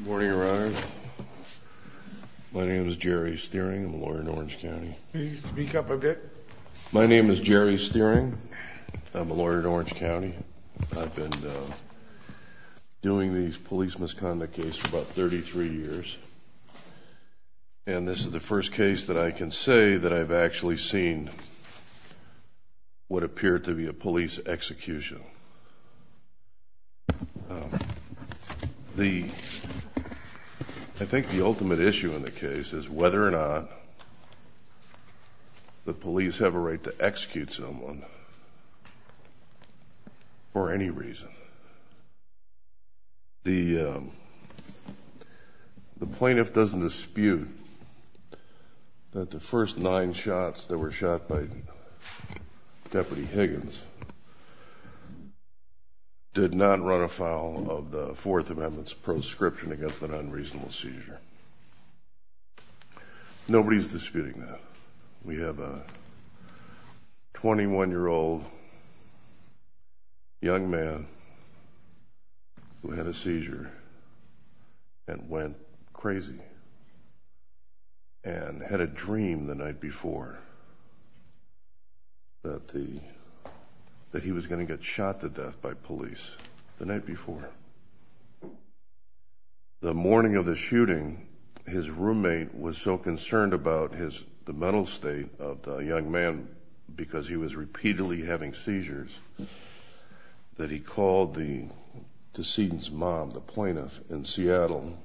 Morning, Your Honor. My name is Jerry Steering. I'm a lawyer in Orange County. Can you speak up a bit? My name is Jerry Steering. I'm a lawyer in Orange County. I've been doing these police misconduct cases for about 33 years and this is the first case that I can say that I've actually seen what appeared to be a I think the ultimate issue in the case is whether or not the police have a right to execute someone for any reason. The plaintiff doesn't dispute that the first nine shots that were shot by Deputy Higgins did not run afoul of the defendant's proscription against an unreasonable seizure. Nobody's disputing that. We have a 21 year old young man who had a seizure and went crazy and had a dream the night before that the that he was going to get shot to death by police the night before. The morning of the shooting his roommate was so concerned about his the mental state of the young man because he was repeatedly having seizures that he called the decedent's mom, the plaintiff, in Seattle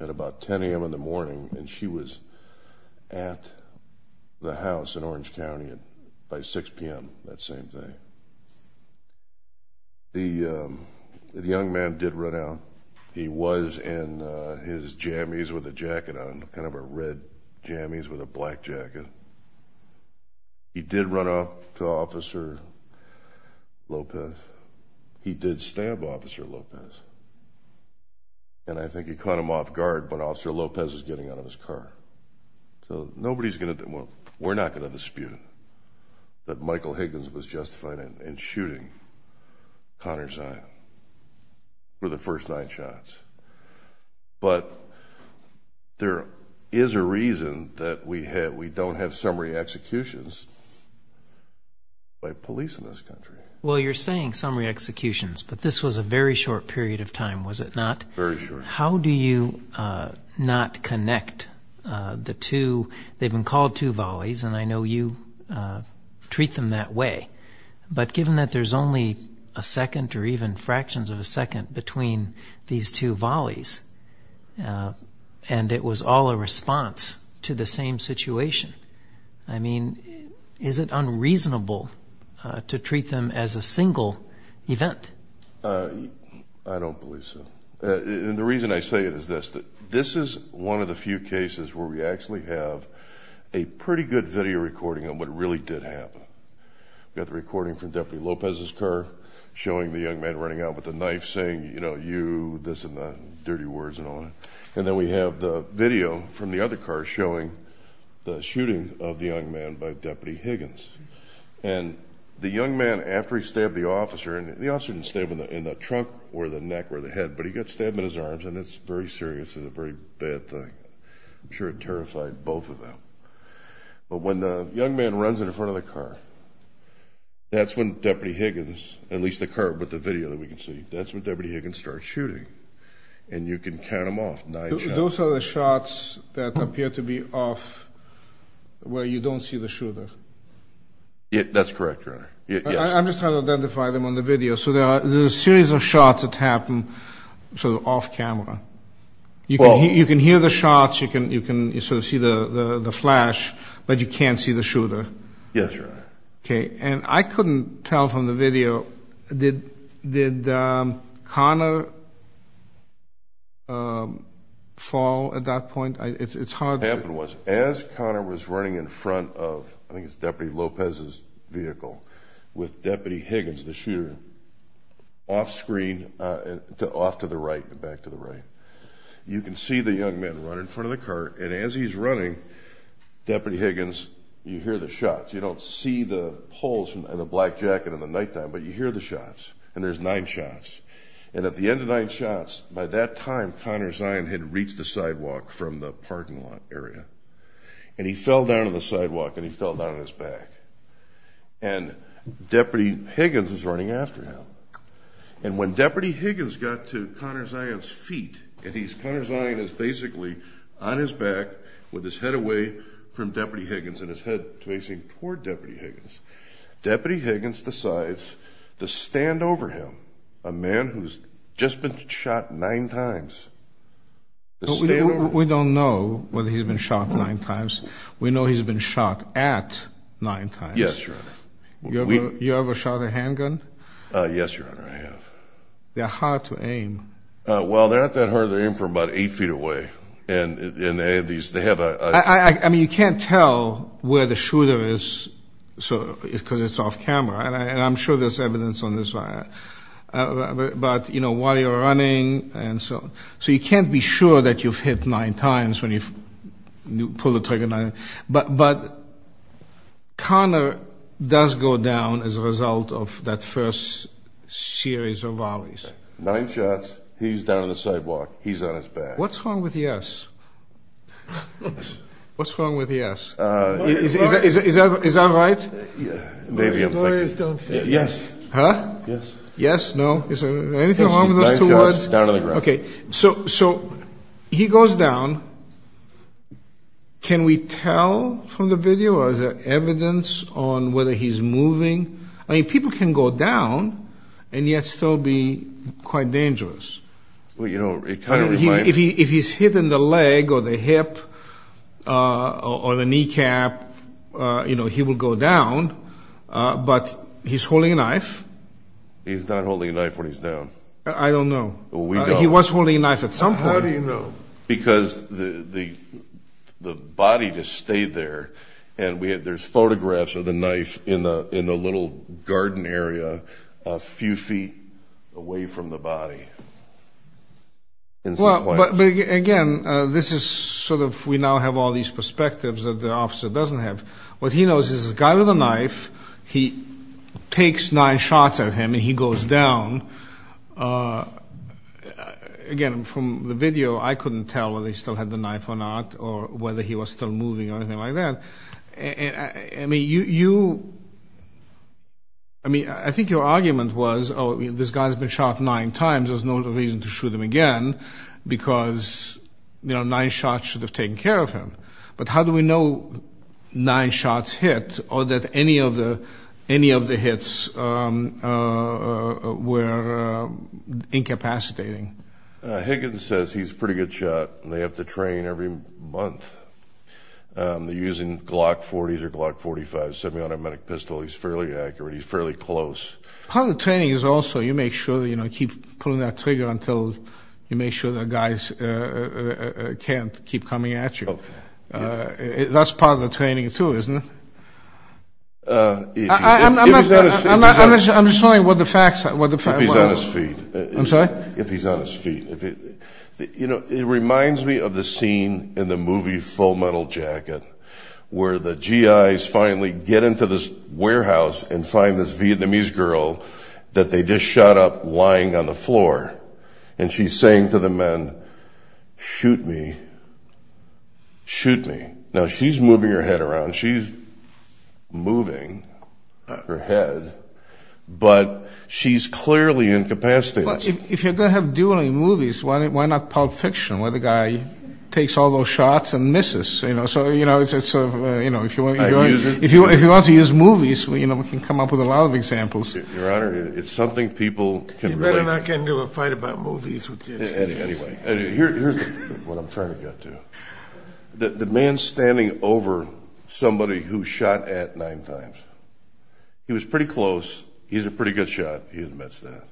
at about 10 a.m. in the morning and she was at the house in Orange County at by 6 p.m. that the young man did run out. He was in his jammies with a jacket on, kind of a red jammies with a black jacket. He did run up to Officer Lopez. He did stab Officer Lopez and I think he caught him off guard but Officer Lopez was getting out of his car. So nobody's gonna, we're not gonna dispute that Michael Higgins was justified in shooting Connor Zion for the first nine shots. But there is a reason that we don't have summary executions by police in this country. Well you're saying summary executions but this was a very short period of time was it not? Very short. How do you not connect the two, they've been called two but given that there's only a second or even fractions of a second between these two volleys and it was all a response to the same situation, I mean is it unreasonable to treat them as a single event? I don't believe so. The reason I say it is this, that this is one of the few cases where we actually have a recording from Deputy Lopez's car showing the young man running out with a knife saying you know you this and the dirty words and all that and then we have the video from the other car showing the shooting of the young man by Deputy Higgins and the young man after he stabbed the officer and the officer didn't stab him in the trunk or the neck or the head but he got stabbed in his arms and it's very serious and a very bad thing. I'm sure it terrified both of But when the young man runs in front of the car, that's when Deputy Higgins, at least the car but the video that we can see, that's when Deputy Higgins starts shooting and you can count them off. Those are the shots that appear to be off where you don't see the shooter? That's correct, your honor. I'm just trying to identify them on the video. So there's a series of shots that happen off-camera. You can hear the shots, you can see the flash but you can't see the shooter? Yes, your honor. Okay and I couldn't tell from the video, did Connor fall at that point? It's hard. What happened was as Connor was running in front of I think it's Deputy Higgins, the shooter, off screen, off to the right, back to the right. You can see the young man run in front of the car and as he's running, Deputy Higgins, you hear the shots. You don't see the holes in the black jacket in the nighttime but you hear the shots and there's nine shots and at the end of nine shots, by that time, Connor Zion had reached the sidewalk from the parking lot area and he fell down on the sidewalk and he fell down on his back and Deputy Higgins was running after him and when Deputy Higgins got to Connor Zion's feet and Connor Zion is basically on his back with his head away from Deputy Higgins and his head facing toward Deputy Higgins, Deputy Higgins decides to stand over him, a man who's just been shot nine times. We don't know whether he's been shot nine times. We know he's been shot at nine times. Yes, Your Honor. You ever shot a handgun? Yes, Your Honor, I have. They're hard to aim. Well, they're not that hard to aim from about eight feet away and they have these, they have a... I mean, you can't tell where the shooter is so it's because it's off camera and I'm sure there's evidence on this, but you know, while you're running and so, so you can't be sure that you've hit nine times when you pull the trigger, but, but Connor does go down as a result of that first series of rallies. Nine shots, he's down on the sidewalk, he's on his back. What's wrong with yes? What's wrong with yes? Is that right? Yes. Huh? Yes. Yes. No. Okay, so, so he goes down. Can we tell from the video or is there evidence on whether he's moving? I mean, people can go down and yet still be quite dangerous. Well, you know, if he's hit in the leg or the hip or the kneecap, you know, he will go down, but he's holding a knife. He's not holding a knife when he's down? I don't know. Well, we don't. He was holding a knife at some point. How do you know? Because the, the, the body just stayed there and we had, there's photographs of the knife in the, in the little garden area a few feet away from the body. Well, but again, this is sort of, we now have all these perspectives that the officer doesn't have. What he knows is this guy with a from the video, I couldn't tell whether he still had the knife or not or whether he was still moving or anything like that. I mean, you, you, I mean, I think your argument was, oh, this guy's been shot nine times. There's no reason to shoot him again because, you know, nine shots should have taken care of him. But how do we know nine shots hit or that any of the, any of the hits were incapacitating? Higgins says he's pretty good shot and they have to train every month. They're using Glock 40s or Glock 45s, semi-automatic pistol. He's fairly accurate. He's fairly close. Part of the training is also you make sure that, you know, keep pulling that trigger until you make sure that guys can't keep coming at you. That's part of the training too, isn't it? I'm not, I'm not, I'm just, I'm just telling you what the facts are, what the facts are. If he's on his feet. I'm sorry? If he's on his feet. You know, it reminds me of the scene in the movie Full Metal Jacket, where the GIs finally get into this warehouse and find this Vietnamese girl that they just shot up lying on the floor. And she's saying to the men, shoot me, shoot me. Now she's moving her head around. She's moving her head, but she's clearly incapacitated. If you're going to have dueling movies, why not Pulp Fiction, where the guy takes all those shots and misses, you know? So, you know, it's a, you know, if you want to use movies, you know, we can come up with a lot of examples. Your Honor, it's something people can relate to. You better not get into a fight about movies with your assistants. Anyway, here's what I'm trying to get to. The man standing over somebody who shot at nine times. He was pretty close. He's a pretty good shot. He admits that.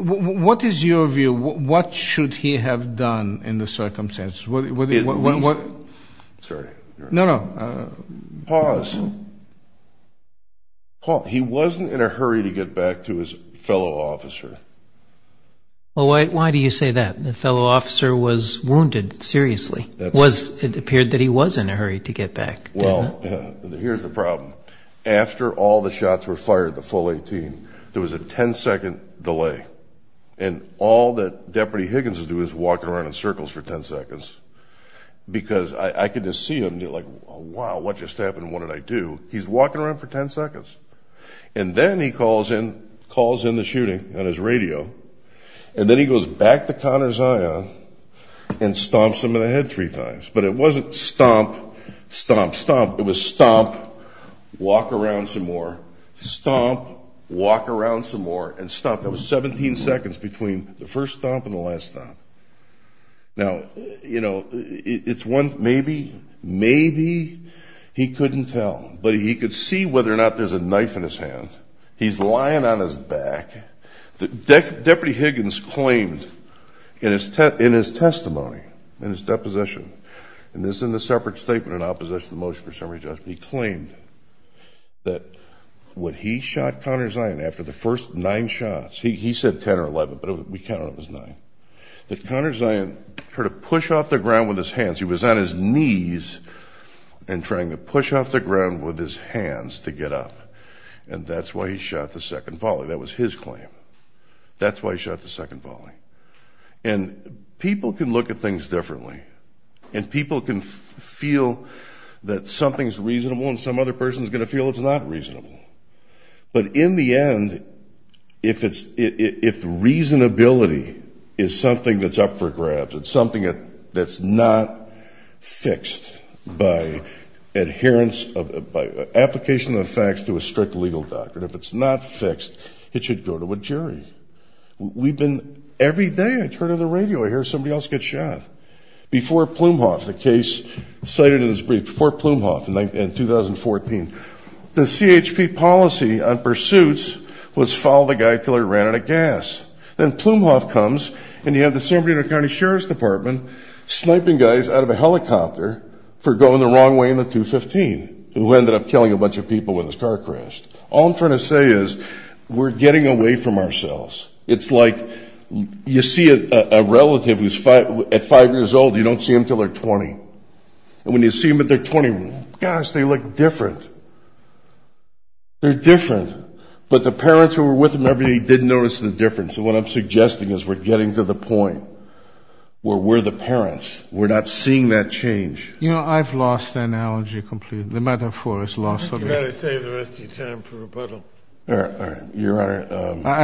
What is your view? What should he have done in the circumstances? Sorry. No, no. Pause. He wasn't in a hurry to get back to his fellow officer. Well, why do you say that? The fellow officer was wounded, seriously. It appeared that he was in a hurry to get back. Well, here's the problem. After all the shots were fired, the full 18, there was a 10-second delay. And all that Deputy Higgins would do is walk around in circles for 10 seconds. Because I could just see him, like, wow, what just happened? What did I do? He's calls in the shooting on his radio. And then he goes back to Connor's eye on and stomps him in the head three times. But it wasn't stomp, stomp, stomp. It was stomp, walk around some more, stomp, walk around some more, and stomp. That was 17 seconds between the first stomp and the last stomp. Now, you know, it's one, maybe, maybe he couldn't tell. But he could see whether or not there's a knife in his hand. He's lying on his back. Deputy Higgins claimed in his testimony, in his deposition, and this is in the separate statement in opposition to the motion for summary judgment, he claimed that when he shot Connor Zion after the first nine shots, he said 10 or 11, but we counted it was nine, that Connor Zion tried to push off the ground with his hands to get up. And that's why he shot the second volley. That was his claim. That's why he shot the second volley. And people can look at things differently. And people can feel that something's reasonable and some other person is going to feel it's not reasonable. But in the end, if it's if reasonability is something that's up for grabs, it's something that's not fixed by adherence, by application of the facts to a strict legal doctrine. If it's not fixed, it should go to a jury. We've been every day I turn on the radio, I hear somebody else get shot. Before Plumhoff, the case cited in this brief, before Plumhoff in 2014, the CHP policy on pursuits was follow the guy until he ran out of gas. Then Plumhoff comes and you have the San Bernardino County Sheriff's Department sniping guys out of a helicopter for going the wrong way in the 215, who ended up killing a bunch of people when his car crashed. All I'm trying to say is we're getting away from ourselves. It's like you see a relative who's at five years old, you don't see them until they're 20. And when you see them at their 20, gosh, they look different. They're different. But the parents who were with them every day didn't notice the difference. So what I'm suggesting is we're getting to the point where we're the parents. We're not seeing that change. You know, I've lost the analogy completely. The metaphor is lost. I think you better save the rest of your time for rebuttal. All right. All right. Your Honor.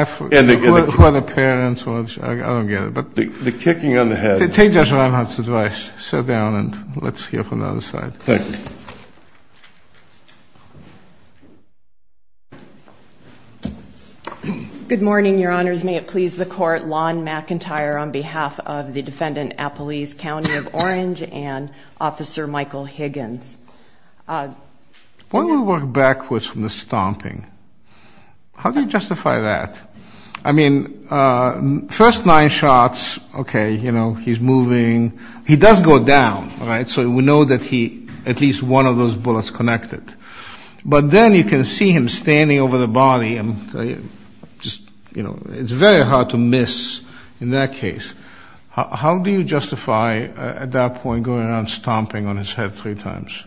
Who are the parents? I don't get it. The kicking on the head. Take Judge Reinhardt's advice. Sit down and let's hear from the other side. Thank you. Good morning, Your Honors. May it please the Court. Lon McIntyre on behalf of the Defendant Appalese County of Orange and Officer Michael Higgins. Why don't we work backwards from the stomping? How do you justify that? I mean, first nine shots, okay, you know, he's moving. He does go down, all right? One of those bullets connected. But then you can see him standing over the body and just, you know, it's very hard to miss in that case. How do you justify at that point going around stomping on his head three times?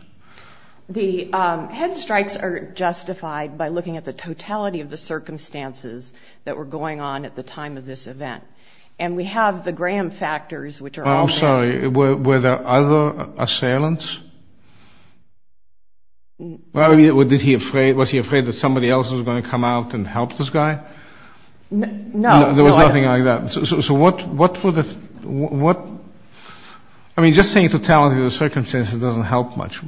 The head strikes are justified by looking at the totality of the circumstances that were going on at the time of this event. And we have the Graham factors, which are all... I'm sorry. Were there other assailants? I mean, was he afraid that somebody else was going to come out and help this guy? No. There was nothing like that. So what would the... I mean, just saying totality of the circumstances doesn't help much.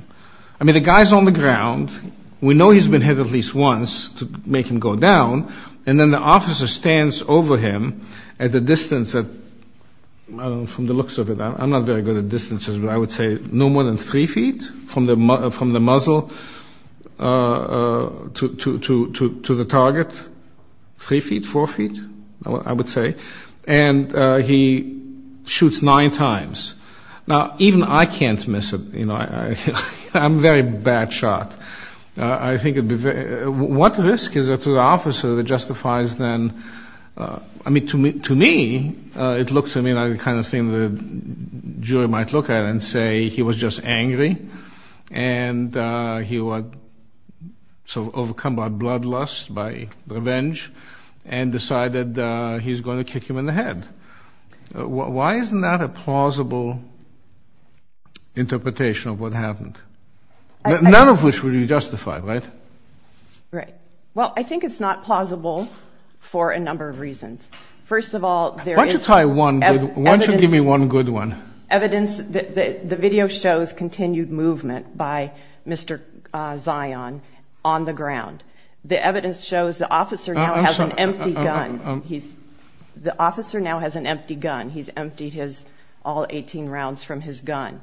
I mean, the guy's on the ground. We know he's been hit at least once to make him go down. And then the officer stands over him at the distance that... I don't know, from the looks of it, I'm not very good at distances, but I would say no more than three feet from the muzzle to the target. Three feet, four feet, I would say. And he shoots nine times. Now, even I can't miss it. You know, I'm a very bad shot. I think it'd be very... What risk is there to the officer that justifies then... To me, it looks to me like the kind of thing the jury might look at and say he was just angry, and he was overcome by bloodlust, by revenge, and decided he's going to kick him in the head. Why isn't that a plausible interpretation of what happened? None of which would be justified, right? Right. Well, I think it's not plausible for a number of reasons. First of all, there is... Why don't you give me one good one? Evidence... The video shows continued movement by Mr. Zion on the ground. The evidence shows the officer now has an empty gun. The officer now has an empty gun. He's emptied all 18 rounds from his gun.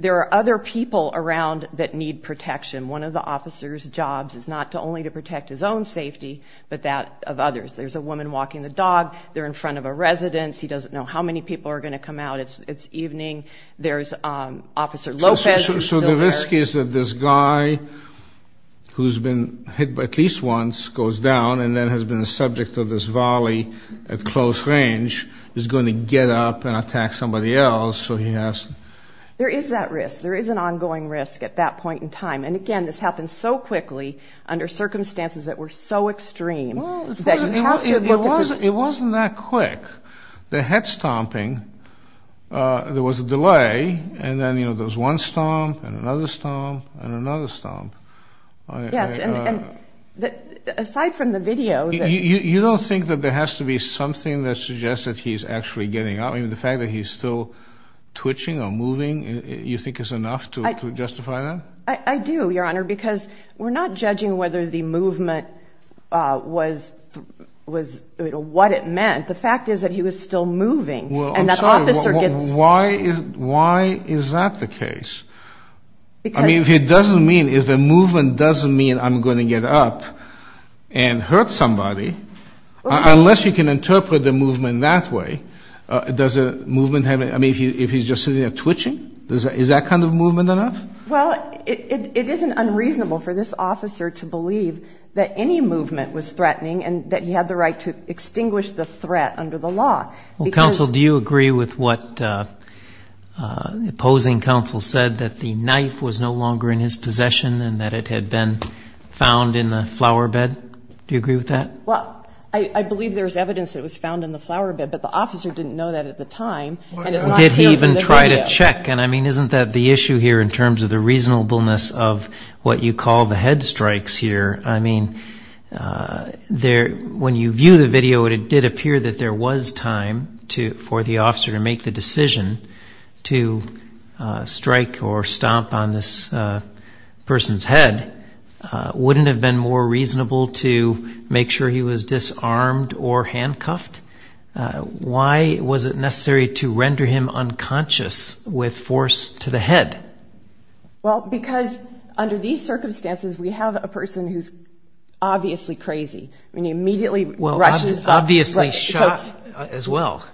There are other people around that need protection. One of the officer's jobs is not only to protect his own safety, but that of others. There's a woman walking the dog. They're in front of a residence. He doesn't know how many people are going to come out. It's evening. There's Officer Lopez, who's still there. So the risk is that this guy, who's been hit at least once, goes down, and then has been the subject of this volley at close range, is going to get up and attack somebody else, so he has... There is that risk. There is an ongoing risk at that point in time. And again, this happened so quickly under circumstances that were so extreme... It wasn't that quick. The head stomping, there was a delay, and then there was one stomp, and another stomp, and another stomp. Yes, and aside from the video... You don't think that there has to be something that suggests that he's actually getting up? I mean, the fact that he's still twitching or moving, you think is enough to justify that? I do, Your Honor, because we're not judging whether the movement was what it meant. The fact is that he was still moving, and that officer gets... Why is that the case? I mean, if it doesn't mean... If the movement doesn't mean I'm going to get up and hurt somebody, unless you can interpret the movement that way, does a movement have... I mean, if he's just sitting there twitching, is that kind of movement enough? Well, it isn't unreasonable for this officer to believe that any movement was threatening, and that he had the right to extinguish the threat under the law, because... Counsel, do you agree with what the opposing counsel said, that the knife was no longer in his possession, and that it had been found in the flowerbed? Do you agree with that? Well, I believe there's evidence that it was found in the flowerbed, but the officer didn't know that at the time, and it's not here from the video. And I mean, isn't that the issue here, in terms of the reasonableness of what you call the head strikes here? I mean, when you view the video, it did appear that there was time for the officer to make the decision to strike or stomp on this person's head. Wouldn't it have been more reasonable to make sure he was disarmed or handcuffed? Why was it necessary to render him unconscious with force to the head? Well, because under these circumstances, we have a person who's obviously crazy. I mean, he immediately rushes... Obviously shot as well,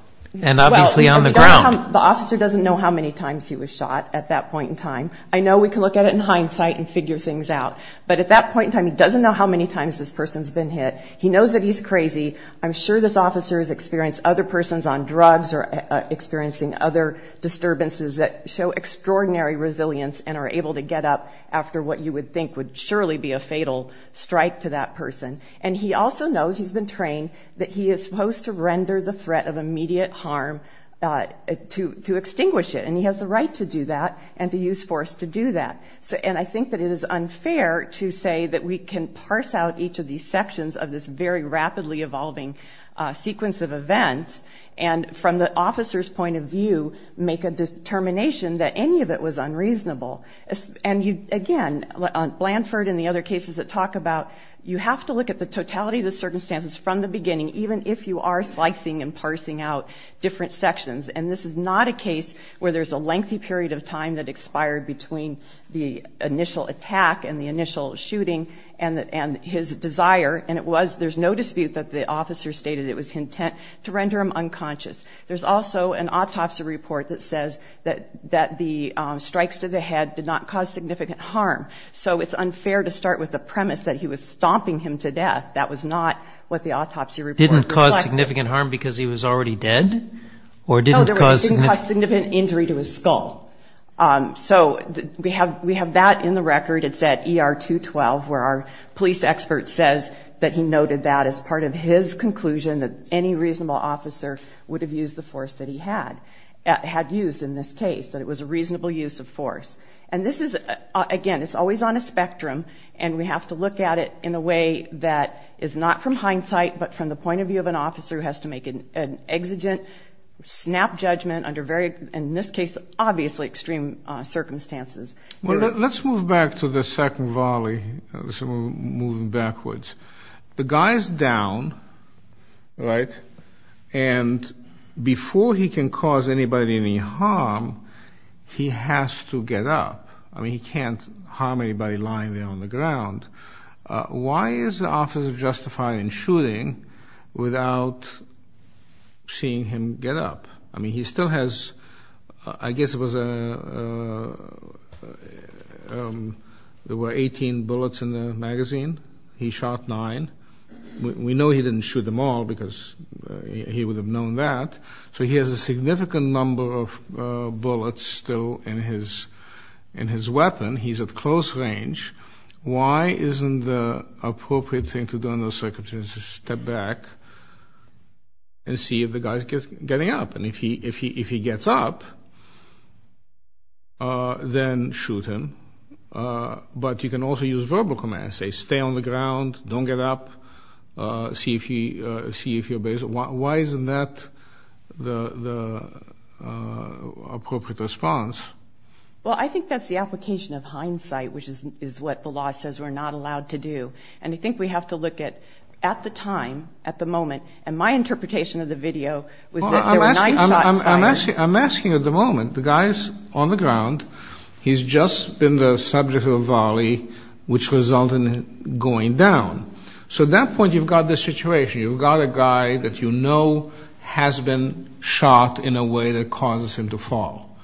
and obviously on the ground. The officer doesn't know how many times he was shot at that point in time. I know we can look at it in hindsight and figure things out, but at that point in time, he doesn't know how many times this person's been hit. He knows that he's crazy. I'm sure this officer has experienced other persons on drugs or experiencing other disturbances that show extraordinary resilience and are able to get up after what you would think would surely be a fatal strike to that person. And he also knows, he's been trained, that he is supposed to render the threat of immediate harm to extinguish it. And he has the right to do that and to use force to do that. And I think that it is unfair to say that we can parse out each of these sections of this very rapidly evolving sequence of events and from the officer's point of view, make a determination that any of it was unreasonable. And again, Blanford and the other cases that talk about, you have to look at the totality of the circumstances from the beginning, even if you are slicing and parsing out different sections. And this is not a case where there's a lengthy period of time that expired between the initial attack and the initial shooting and his desire, and it was, there's no dispute that the officer stated it was intent to render him unconscious. There's also an autopsy report that says that the strikes to the head did not cause significant harm. So it's unfair to start with the premise that he was stomping him to death. That was not what the autopsy report reflects. Didn't cause significant harm because he was already dead? No, it didn't cause significant injury to his skull. So we have that in the record. It's at ER 212, where our police expert says that he noted that as part of his conclusion that any reasonable officer would have used the force that he had used in this case, that it was a reasonable use of force. And this is, again, it's always on a spectrum and we have to look at it in a way that is not from hindsight, but from the point of view of an officer who has to make an exigent, snap judgment under very, in this case, obviously extreme circumstances. Well, let's move back to the second volley, moving backwards. The guy's down, right? And before he can cause anybody any harm, he has to get up. I mean, he can't harm anybody lying there on the ground. Why is the Office of Justifying and Shooting without seeing him get up? I mean, he still has, I guess it was, there were 18 bullets in the magazine. He shot nine. We know he didn't shoot them all because he would have known that. So he has a significant number of bullets still in his weapon. He's at close range. Why isn't the appropriate thing to do in those circumstances to step back and see if the guy's getting up? If he gets up, then shoot him. But you can also use verbal commands. Say, stay on the ground. Don't get up. See if you're... Why isn't that the appropriate response? Well, I think that's the application of hindsight, which is what the law says we're not allowed to do. And I think we have to look at the time, at the moment. And my interpretation of the video was that there were nine shots fired. I'm asking at the moment. The guy's on the ground. He's just been the subject of a volley, which resulted in going down. So at that point, you've got this situation. You've got a guy that you know has been shot in a way that causes him to fall.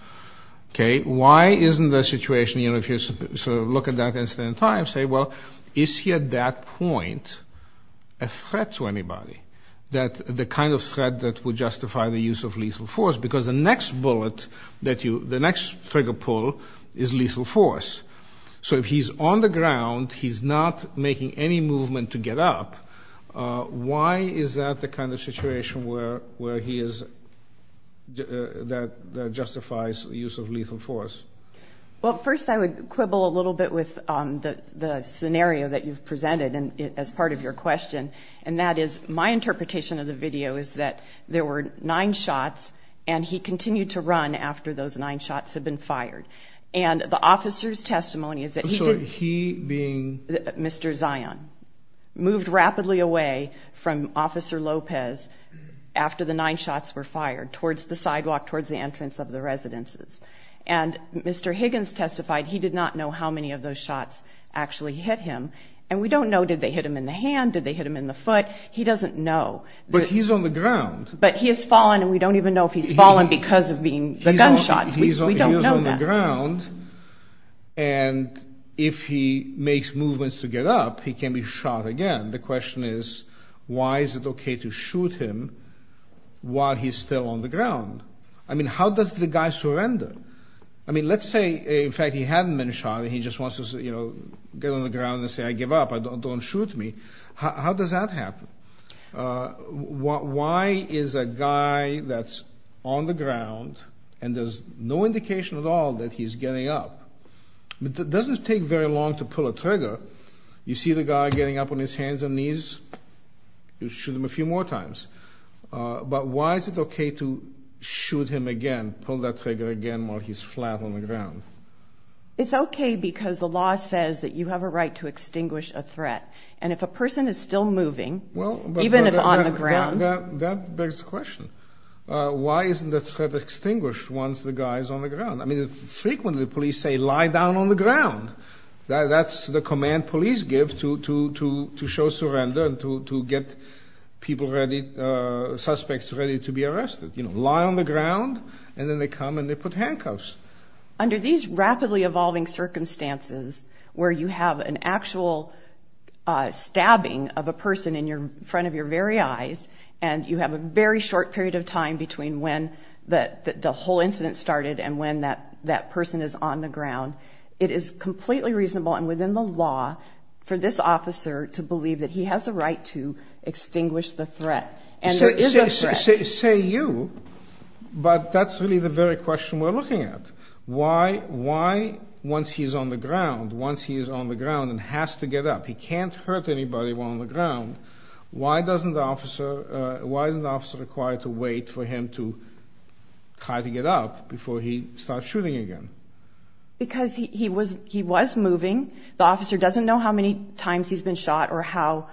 Okay. Why isn't the situation, you know, if you sort of look at that incident in time, say, well, is he at that point a threat to anybody? That the kind of threat that would justify the use of lethal force? Because the next bullet that you... The next trigger pull is lethal force. So if he's on the ground, he's not making any movement to get up. Why is that the kind of situation where he is... That justifies the use of lethal force? Well, first, I would quibble a little bit with the scenario that you've presented and as part of your question. And that is my interpretation of the video is that there were nine shots and he continued to run after those nine shots had been fired. And the officer's testimony is that... I'm sorry, he being... Mr. Zion moved rapidly away from Officer Lopez after the nine shots were fired towards the sidewalk, towards the entrance of the residences. And Mr. Higgins testified he did not know how many of those shots actually hit him. And we don't know, did they hit him in the hand? Did they hit him in the foot? He doesn't know. But he's on the ground. But he has fallen and we don't even know if he's fallen because of being... The gunshots. We don't know that. He's on the ground. And if he makes movements to get up, he can be shot again. The question is, why is it okay to shoot him while he's still on the ground? I mean, how does the guy surrender? I mean, let's say, in fact, he hadn't been shot. He just wants to, you know, get on the ground and say, I give up, don't shoot me. How does that happen? Why is a guy that's on the ground and there's no indication at all that he's getting up? But it doesn't take very long to pull a trigger. You see the guy getting up on his hands and knees, you shoot him a few more times. But why is it okay to shoot him again, pull that trigger again while he's flat on the ground? It's okay because the law says that you have a right to extinguish a threat. And if a person is still moving, even if on the ground. Well, that begs the question. Why isn't that threat extinguished once the guy is on the ground? I mean, frequently the police say, lie down on the ground. That's the command police give to show surrender and to get people ready, suspects ready to be arrested, you know, lie on the ground. And then they come and they put handcuffs. Under these rapidly evolving circumstances where you have an actual stabbing of a person in front of your very eyes, and you have a very short period of time between when the whole incident started and when that person is on the ground. It is completely reasonable and within the law for this officer to believe that he has a right to extinguish the threat. And there is a threat. Say you, but that's really the very question we're looking at. Why, once he's on the ground, once he is on the ground and has to get up, he can't hurt anybody while on the ground. Why doesn't the officer, why isn't the officer required to wait for him to try to get up before he starts shooting again? Because he was, he was moving. The officer doesn't know how many times he's been shot or how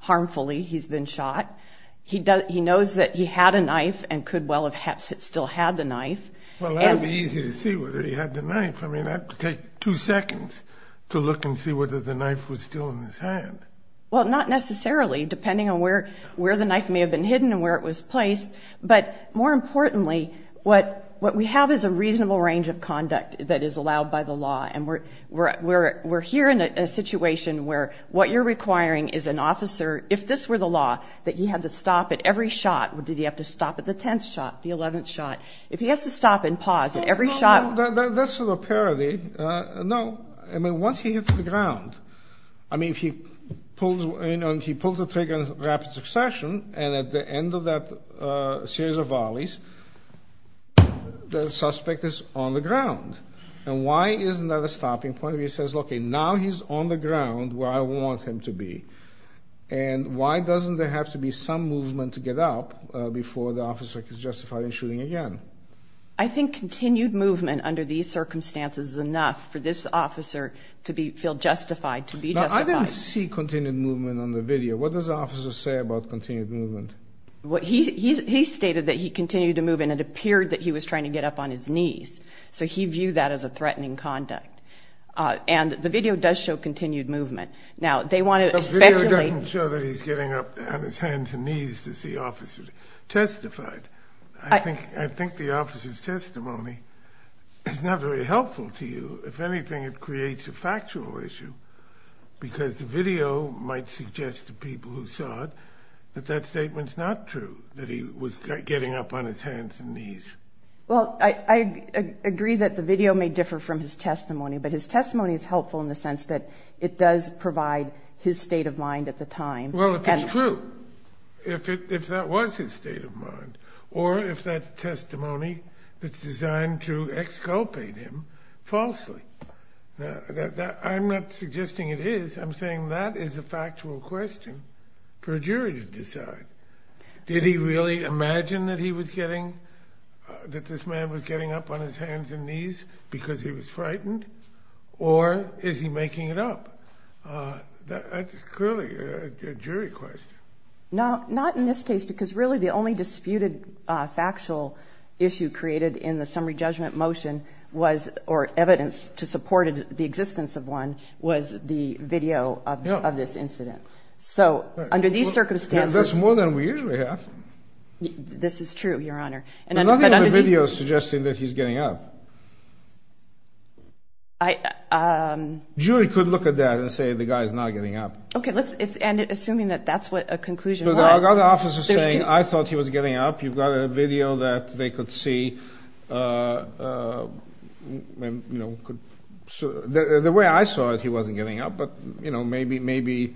harmfully he's been shot. He knows that he had a knife and could well have still had the knife. Well, that would be easy to see whether he had the knife. I mean, that would take two seconds to look and see whether the knife was still in his hand. Well, not necessarily, depending on where the knife may have been hidden and where it was placed. But more importantly, what we have is a reasonable range of conduct that is allowed by the law. And we're, we're, we're here in a situation where what you're requiring is an officer, if this were the law, that he had to stop at every shot. Did he have to stop at the 10th shot, the 11th shot? If he has to stop and pause at every shot. That's sort of a parody. No, I mean, once he hits the ground, I mean, if he pulls in and he pulls the trigger in rapid succession, and at the end of that series of volleys, the suspect is on the ground. And why isn't that a stopping point? He says, okay, now he's on the ground where I want him to be. And why doesn't there have to be some movement to get up before the officer is justified in shooting again? I think continued movement under these circumstances is enough for this officer to be, feel justified, to be justified. Now, I didn't see continued movement on the video. What does the officer say about continued movement? Well, he, he stated that he continued to move and it appeared that he was trying to get up on his knees. So he viewed that as a threatening conduct. And the video does show continued movement. Now, they want to speculate... The video doesn't show that he's getting up on his hands and knees to see officers testified. I think, I think the officer's testimony is not very helpful to you. If anything, it creates a factual issue because the video might suggest to people who saw it that that statement's not true, that he was getting up on his hands and knees. Well, I, I agree that the video may differ from his testimony, but his testimony is helpful in the sense that it does provide his state of mind at the time. Well, if it's true, if it, if that was his state of mind, or if that testimony is designed to exculpate him falsely. I'm not suggesting it is. I'm saying that is a factual question for a jury to decide. Did he really imagine that he was getting, that this man was getting up on his hands and knees because he was frightened? Or is he making it up? That's clearly a jury question. Not in this case, because really the only disputed factual issue created in the summary judgment motion was, or evidence to support the existence of one, was the video of this incident. So under these circumstances... That's more than we usually have. This is true, Your Honor. And under these... There's nothing on the video suggesting that he's getting up. I, um... Jury could look at that and say the guy's not getting up. Okay, let's, it's, and assuming that that's what a conclusion was... There's other officers saying, I thought he was getting up. You've got a video that they could see, uh, uh, you know, could, the way I saw it, he wasn't getting up. But, you know, maybe, maybe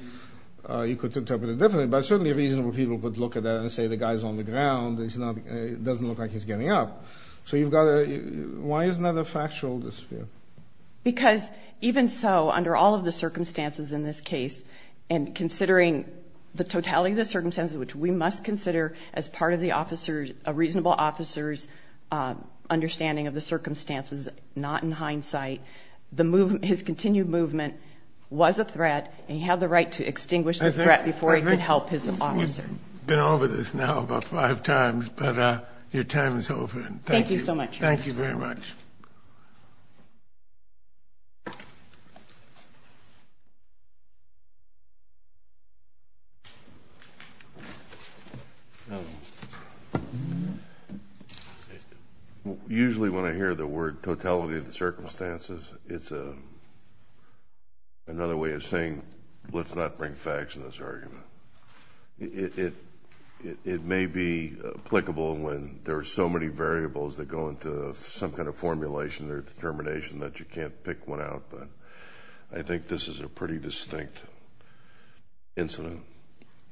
you could interpret it differently. But certainly reasonable people could look at that and say the guy's on the ground. It's not, it doesn't look like he's getting up. So you've got a... Why isn't that a factual dispute? Because even so, under all of the circumstances in this case, and considering the totality of the circumstances, which we must consider as part of the officer's, a reasonable officer's understanding of the circumstances, not in hindsight, the movement, his continued movement was a threat and he had the right to extinguish the threat before he could help. You've been over this now about five times, but, uh, your time is over. Thank you so much. Thank you very much. Usually when I hear the word totality of the circumstances, it's a, another way of saying, let's not bring facts in this argument. It, it, it, it may be applicable when there are so many variables that go into some kind of formulation or determination that you can't pick one out. But I think this is a pretty distinct incident.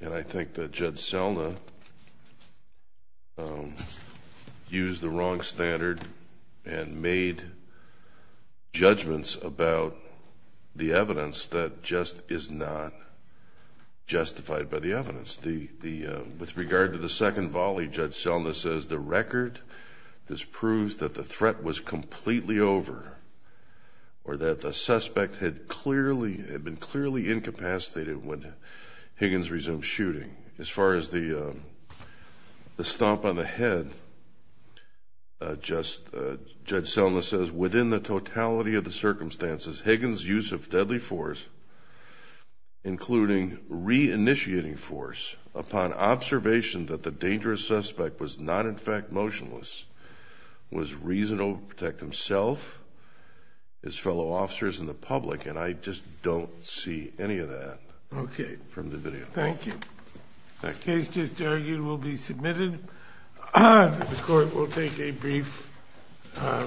And I think that Judge Selna, um, used the wrong standard and made judgments about the the, uh, with regard to the second volley, Judge Selna says the record, this proves that the threat was completely over or that the suspect had clearly, had been clearly incapacitated when Higgins resumed shooting. As far as the, um, the stomp on the head, uh, just, uh, Judge Selna says within the upon observation that the dangerous suspect was not in fact motionless, was reasonable to protect himself, his fellow officers and the public. And I just don't see any of that. Okay. From the video. Thank you. That case just argued will be submitted. The court will take a brief, uh, recess.